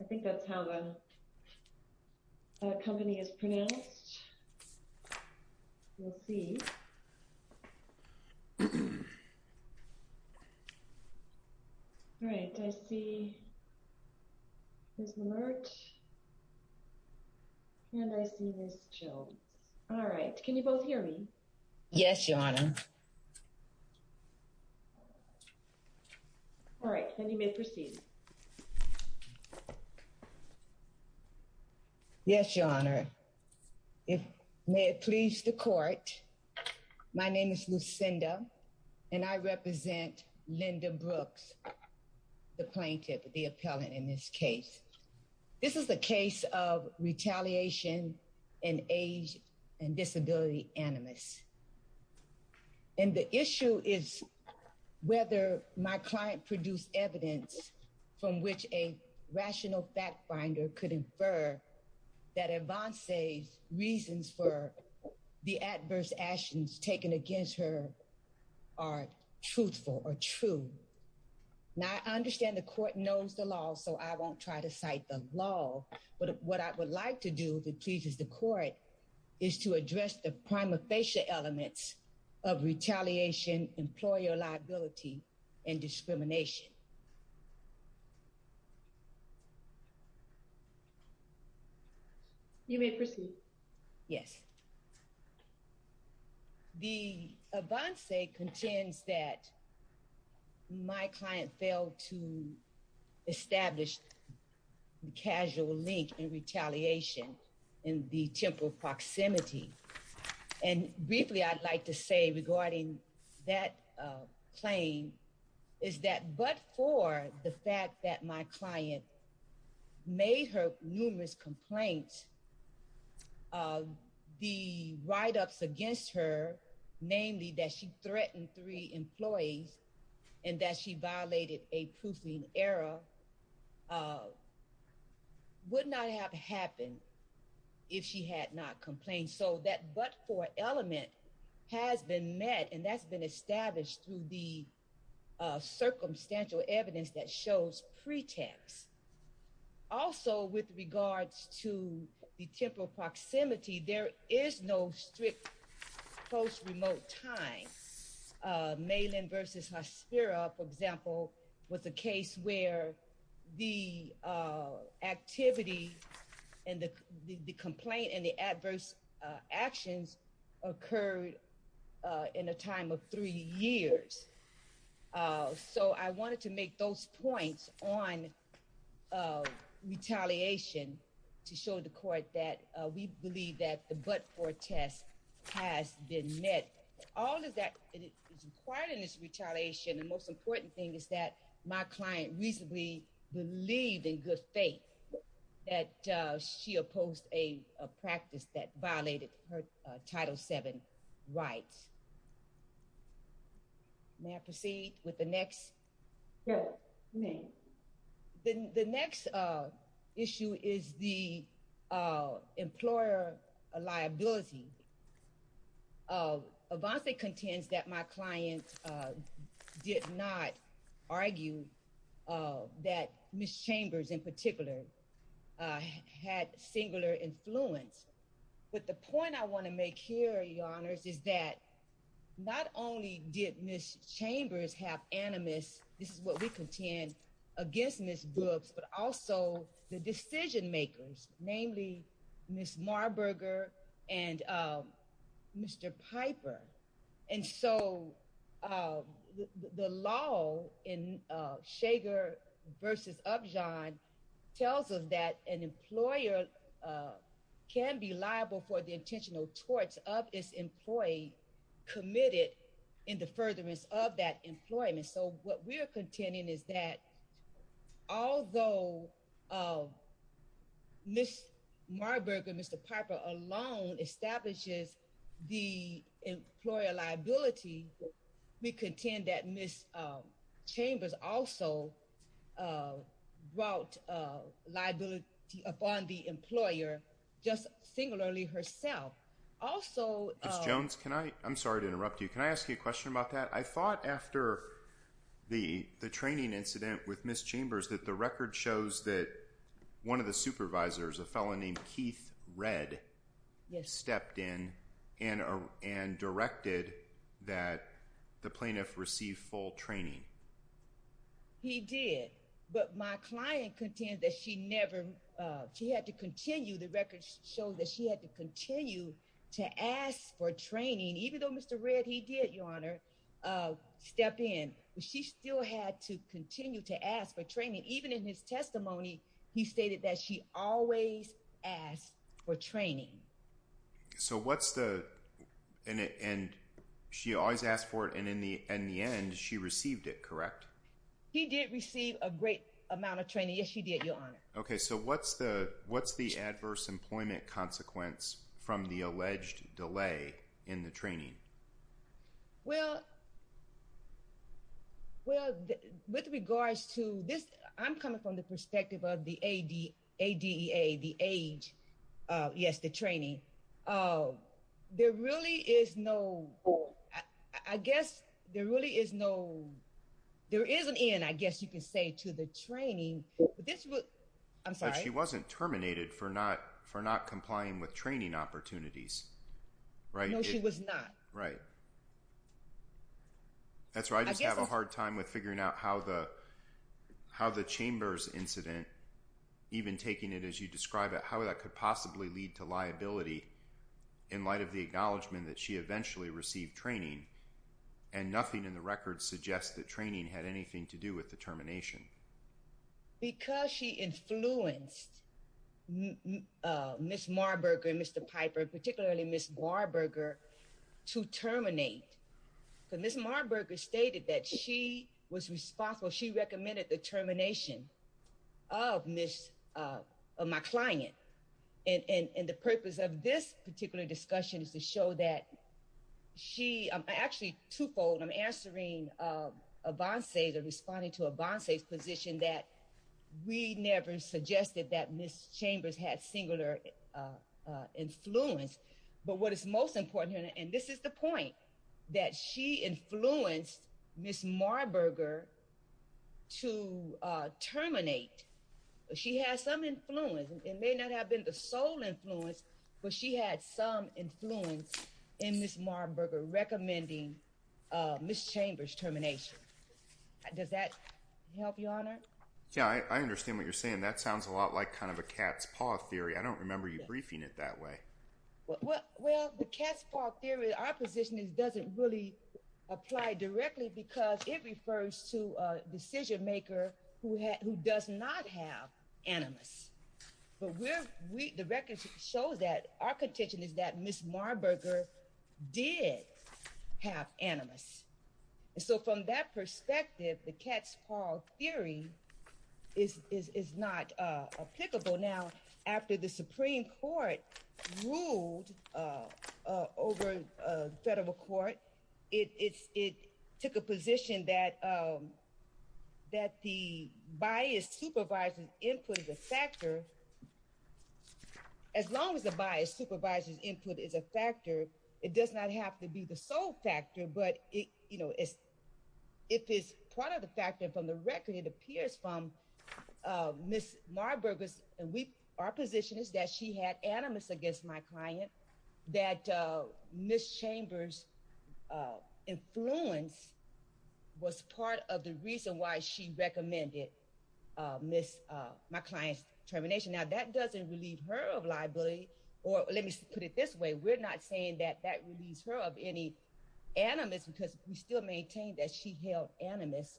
I think that's how the company is pronounced. We'll see. All right, I see Ms. Lamert and And I see Ms. Jones. All right. Can you both hear me? Yes, Your Honor. All right, then you may proceed. Yes, Your Honor. May it please the court. My name is Lucinda and I represent Linda Brooks, the plaintiff, the appellant in this case. This is a case of retaliation and age and disability animus. And the issue is whether my client produced evidence from which a rational fact finder could infer that Avancez's reasons for the adverse actions taken against her are truthful or true. Now, I understand the court knows the law, so I won't try to cite the law. But what I would like to do, if it pleases the court, is to address the prima facie elements of retaliation, employer liability, and discrimination. You may proceed. Yes. The Avancez contends that my client failed to establish the casual link in retaliation in the temporal proximity. And briefly, I'd like to say regarding that claim is that but for the fact that my client made her numerous complaints, the write-ups against her, namely that she threatened three employees and that she violated a proofing error, would not have happened if she had not complained. So that but for element has been met, that's been established through the circumstantial evidence that shows pretext. Also, with regards to the temporal proximity, there is no strict post-remote time. Malin v. Hospira, for example, was a case where the activity and the complaint and the adverse actions occurred in a time of three years. So I wanted to make those points on retaliation to show the court that we believe that the but for test has been met. All of that is required in this retaliation. The most important thing is that my client reasonably believed in good faith that she opposed a practice that violated her Title VII rights. May I proceed with the next? The next issue is the employer liability. Avanzé contends that my client did not argue that Ms. Chambers in particular had singular influence. But the point I want to make here, Your Honors, is that not only did Ms. Chambers have animus, this is what we contend, against Ms. Brooks, but also the decision-makers, namely Ms. Marburger and Mr. Piper. And so the law in Shager v. Upjohn tells us that an employer can be liable for the intentional torts of its employee committed in the furtherance of that employment. So what we're contending is that although Ms. Marburger and Mr. Piper alone establishes the employer liability, we contend that Ms. Chambers also brought liability upon the employer just singularly herself. Ms. Jones, I'm sorry to interrupt you. Can I ask you a question about that? I thought after the training incident with Ms. Chambers that the record shows that one of the supervisors, a fellow named Keith Redd, stepped in and directed that the plaintiff receive full training. He did. But my client contends that she never, she had to continue, the record shows that she had to continue to ask for training, even though Mr. Redd, he did, Your Honor, step in. She still had to continue to ask for training. Even in his testimony, he stated that she always asked for training. So what's the, and she always asked for it, and in the end, she received it, correct? He did receive a great amount of training. Yes, she did, Your Honor. Okay, so what's the adverse employment consequence from the alleged delay in the training? Well, with regards to this, I'm coming from the perspective of the ADEA, the age, yes, the training. There really is no, I guess there really is no, there is an end, I guess you could say, to the training. This was, I'm sorry. But she wasn't terminated for not, for not complying with training opportunities, right? No, she was not. Right. That's right, I just have a hard time with figuring out how the, how the Chambers incident, even taking it as you describe it, how that could possibly lead to liability in light of the acknowledgement that she eventually received training, and nothing in the record suggests that training had anything to do with the termination. Because she influenced Ms. Marburger and Mr. Piper, particularly Ms. Warburger, to terminate. Ms. Marburger stated that she was responsible, she recommended the termination of Ms., of my client. And the purpose of this particular discussion is to show that she, I'm actually twofold, I'm answering Avancé's or responding to Avancé's position that we never suggested that Ms. Chambers had singular influence. But what is most important here, and this is the point, that she influenced Ms. Marburger to terminate. She had some influence, it may not have been the sole influence, but she had some influence in Ms. Marburger recommending Ms. Chambers' termination. Does that help, Your Honor? Yeah, I understand what you're saying. That sounds a lot like kind of a cat's paw theory. I don't remember you briefing it that way. Well, the cat's paw theory, our position, doesn't really apply directly because it refers to a the record shows that our contention is that Ms. Marburger did have animus. So from that perspective, the cat's paw theory is not applicable. Now, after the Supreme Court ruled over the federal court, it took a position that the bias supervises input as a factor as long as the bias supervises input is a factor, it does not have to be the sole factor. But if it's part of the factor from the record, it appears from Ms. Marburger's, our position is that she had animus against my client, that Ms. Chambers' influence was part of the reason why she recommended my client's termination. Now, that doesn't relieve her of liability, or let me put it this way, we're not saying that that relieves her of any animus because we still maintain that she held animus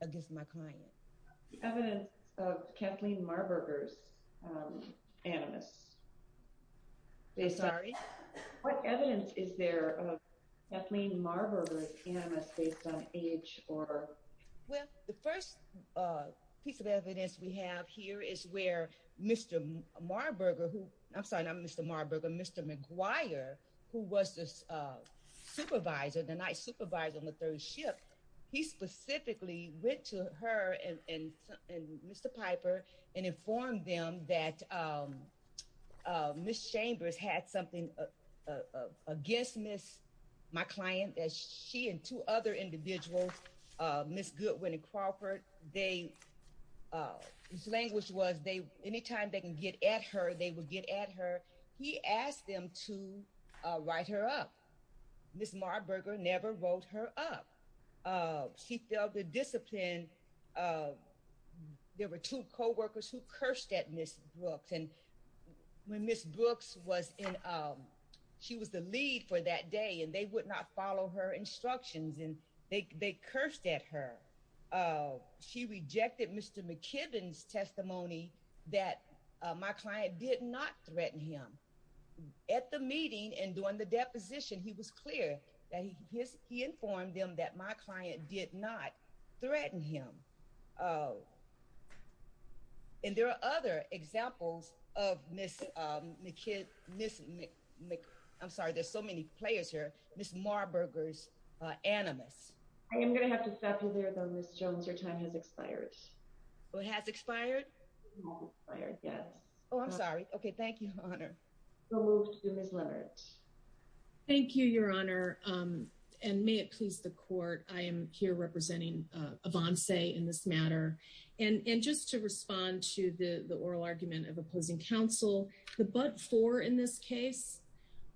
against my client. Evidence of Kathleen Marburger's animus. I'm sorry? What evidence is there of Kathleen Marburger's animus based on age or? Well, the first piece of evidence we have here is where Mr. Marburger, who, I'm sorry, not Mr. Marburger, Mr. McGuire, who was this supervisor, the night supervisor on the third ship, he specifically went to her and Mr. Piper and informed them that Ms. Chambers had something against Ms., my client, as she and two other individuals, Ms. Goodwin and Crawford, his language was anytime they can get at her, they will get at her. He asked them to write her up. Ms. Marburger never wrote her up. She failed to discipline, there were two co-workers who cursed at Ms. Brooks and when Ms. Brooks was in, she was the lead for that day and they would not follow her instructions and they cursed at her. She rejected Mr. McKibbin's testimony that my client did not threaten him. At the meeting and during the deposition, he was clear that he informed them that my client did not threaten him. And there are other examples of Ms., I'm sorry, there's so many players here, Ms. Marburger's animus. I am going to have to stop you there though, Ms. Jones, your time has expired. It has expired? It has expired, yes. Oh, I'm sorry. Okay, thank you, Your Honor. We'll move to Ms. Leverett. Thank you, Your Honor. And may it please the court, I am here representing Avancé in this matter. And just to respond to the oral argument of opposing counsel, the but-for in this case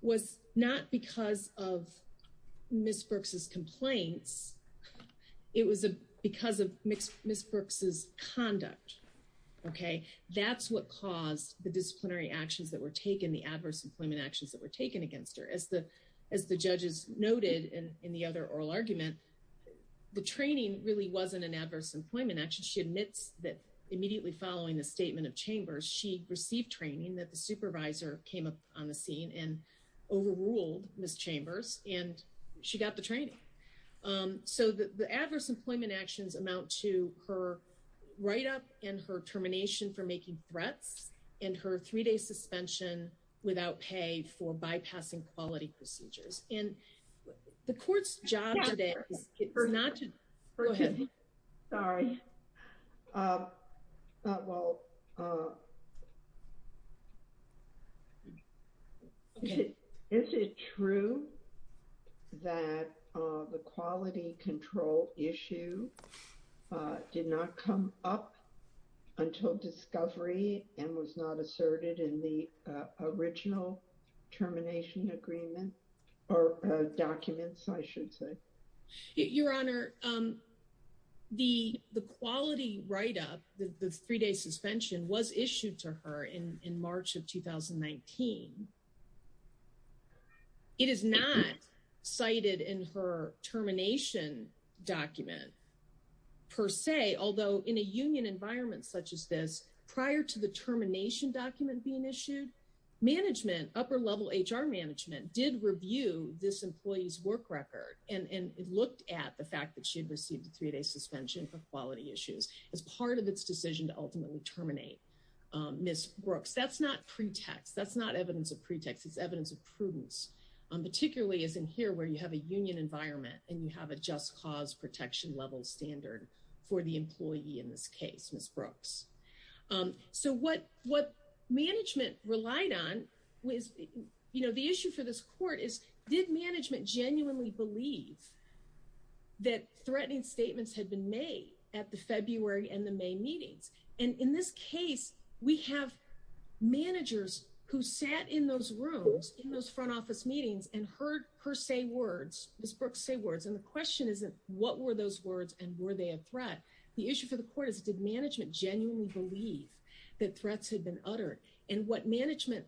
was not because of Ms. Brooks's complaints, it was because of Ms. Brooks's conduct, okay? That's what caused the disciplinary actions that were taken, the adverse employment actions that were taken against her. As the judges noted in the other oral argument, the training really wasn't an adverse employment action. She admits that immediately following the statement of and overruled Ms. Chambers, and she got the training. So the adverse employment actions amount to her write-up and her termination for making threats and her three-day suspension without pay for bypassing quality procedures. And the court's job today is not to, go ahead. Sorry, well, is it true that the quality control issue did not come up until discovery and was not asserted in the original termination agreement or documents, I should say? Your Honor, the quality write-up, the three-day suspension was issued to her in March of 2019. It is not cited in her termination document per se, although in a union environment such as this, prior to the termination document being issued, management, upper-level HR management, did review this employee's work record and looked at the fact that she had received a three-day suspension for quality issues as part of its decision to ultimately terminate Ms. Brooks. That's not pretext. That's not evidence of pretext. It's evidence of prudence, particularly as in here where you have a union environment and you have a just cause protection level standard for the employee in this case, Ms. Brooks. So what management relied on was, you know, the issue for this court is, did management genuinely believe that threatening statements had been made at the February and the May meetings? And in this case, we have managers who sat in those rooms, in those front office meetings and heard her say words, Ms. Brooks say words, and the question isn't what were those words and were they a threat? The issue for the court is, did management genuinely believe that threats had been uttered and what management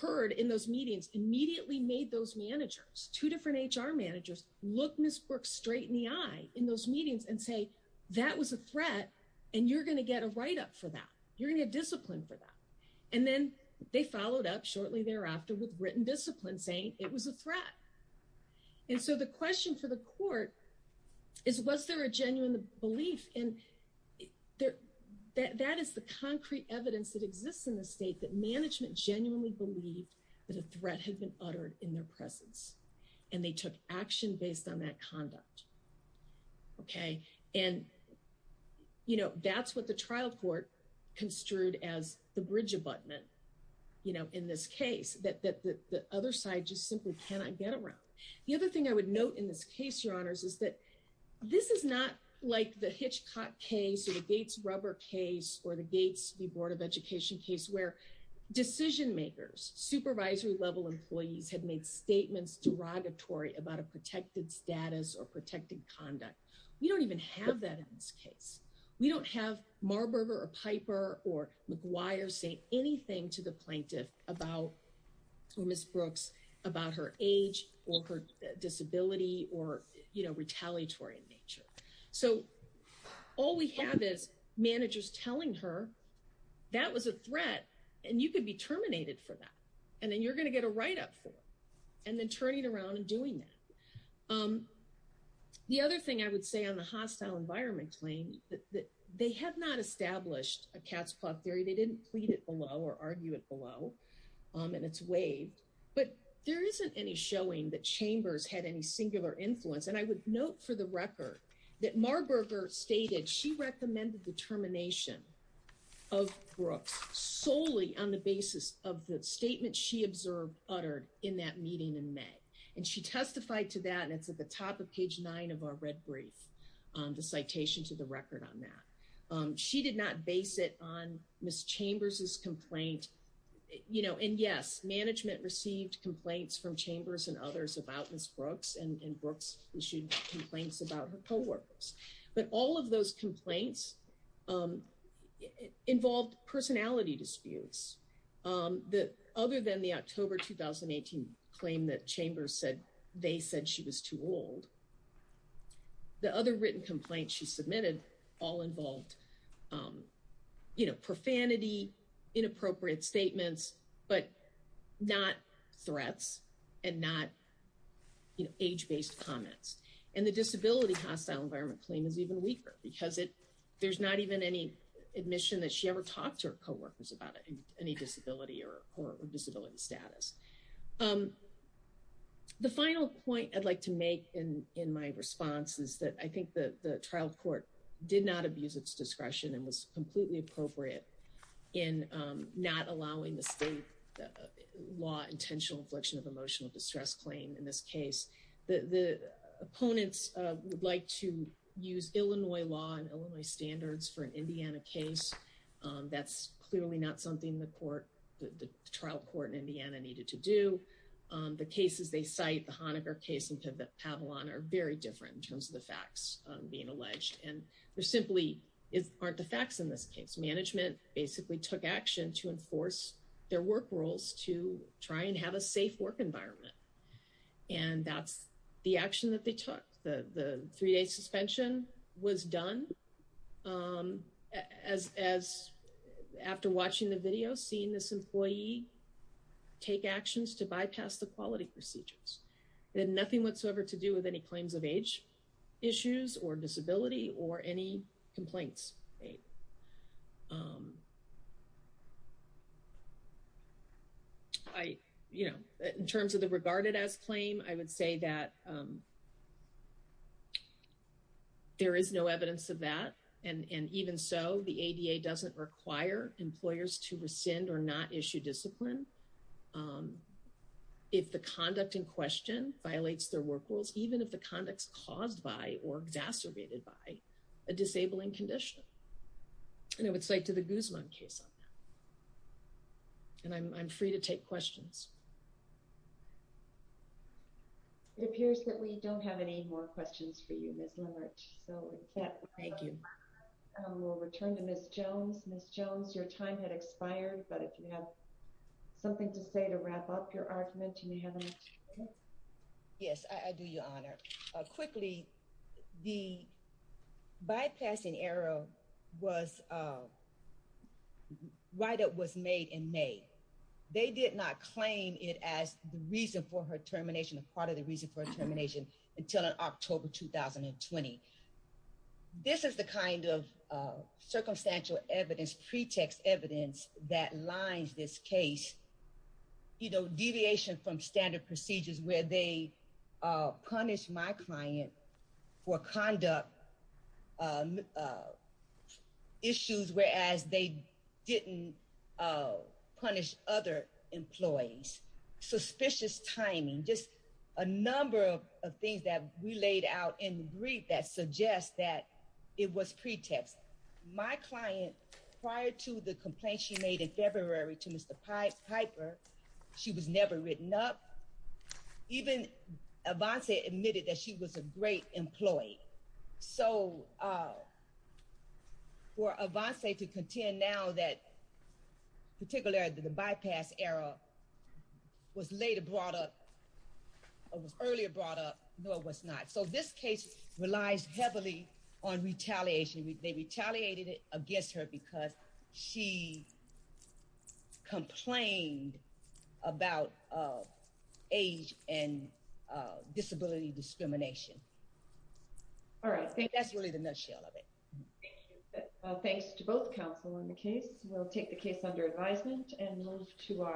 heard in those meetings immediately made those managers, two different HR managers, look Ms. Brooks straight in the eye in those meetings and say, that was a threat and you're going to get a write-up for that. You're going to get discipline for that. And then they followed up shortly thereafter with written discipline saying it was a threat. And so the question for the court is, was there a genuine belief? And that is the concrete evidence that management genuinely believed that a threat had been uttered in their presence and they took action based on that conduct. Okay. And you know, that's what the trial court construed as the bridge abutment, you know, in this case that the other side just simply cannot get around. The other thing I would note in this case, your honors, is that this is not like the Hitchcock case or the Gates-Rubber case or the Gates v. Board of Education case where decision makers, supervisory level employees had made statements derogatory about a protected status or protected conduct. We don't even have that in this case. We don't have Marburger or Piper or McGuire say anything to the plaintiff about, or Ms. Brooks, about her age or her disability or, you know, all we have is managers telling her that was a threat and you could be terminated for that. And then you're going to get a write-up for it and then turning around and doing that. The other thing I would say on the hostile environment claim that they have not established a cat's claw theory. They didn't plead it below or argue it below. And it's waived. But there isn't any showing that Chambers had any singular influence. And I would note for the record that Marburger stated she recommended the termination of Brooks solely on the basis of the statement she observed uttered in that meeting in May. And she testified to that and it's at the top of page nine of our red brief, the citation to the record on that. She did not base it on Ms. Chambers' complaint, you know, and yes, management received complaints from Chambers and others about Ms. Brooks and Brooks issued complaints about her coworkers. But all of those complaints involved personality disputes. Other than the October 2018 claim that Chambers said they said she was too old, the other written complaints she submitted all involved, you know, not, you know, age-based comments. And the disability hostile environment claim is even weaker because there's not even any admission that she ever talked to her coworkers about any disability or disability status. The final point I'd like to make in my response is that I think the trial court did not abuse its discretion and was completely appropriate in not allowing the state law intentional infliction of emotional distress claim in this case. The opponents would like to use Illinois law and Illinois standards for an Indiana case. That's clearly not something the court, the trial court in Indiana needed to do. The cases they cite, the Honaker case in Pavelon are very different in terms of the facts being basically took action to enforce their work rules to try and have a safe work environment. And that's the action that they took. The three-day suspension was done as after watching the video, seeing this employee take actions to bypass the quality procedures. It had nothing whatsoever to do with any claims of age issues or disability or any complaints. I, you know, in terms of the regarded as claim, I would say that there is no evidence of that. And even so the ADA doesn't require employers to rescind or not issue discipline. If the conduct in question violates their work rules, even if the conduct caused by or exacerbated by a disabling condition, and it would say to the Guzman case on that, and I'm free to take questions. It appears that we don't have any more questions for you, Ms. Lamert. So thank you. We'll return to Ms. Jones. Ms. Jones, your time had expired, but if you have something to say to wrap up your argument and you haven't. Yes, I do, Your Honor. Quickly, the bypassing error was, right up was made in May. They did not claim it as the reason for her termination of part of the reason for termination until October, 2020. This is the kind of circumstantial evidence, pretext evidence that lines this case, you know, deviation from standard procedures where they punished my client for conduct issues, whereas they didn't punish other employees. Suspicious timing, just a number of things that we laid out in the brief that suggests that it was pretext. My client, prior to the complaint she made in February to Mr. Piper, she was never written up. Even Avanze admitted that she was a great employee. So for Avanze to contend now that particularly the bypass error was later brought up, or was earlier brought up, nor was not. So this case relies heavily on retaliation. They retaliated it against her because she complained about age and disability discrimination. All right, I think that's really the nutshell of it. Thank you. Thanks to both counsel in the case. We'll take the case under advisement and move to our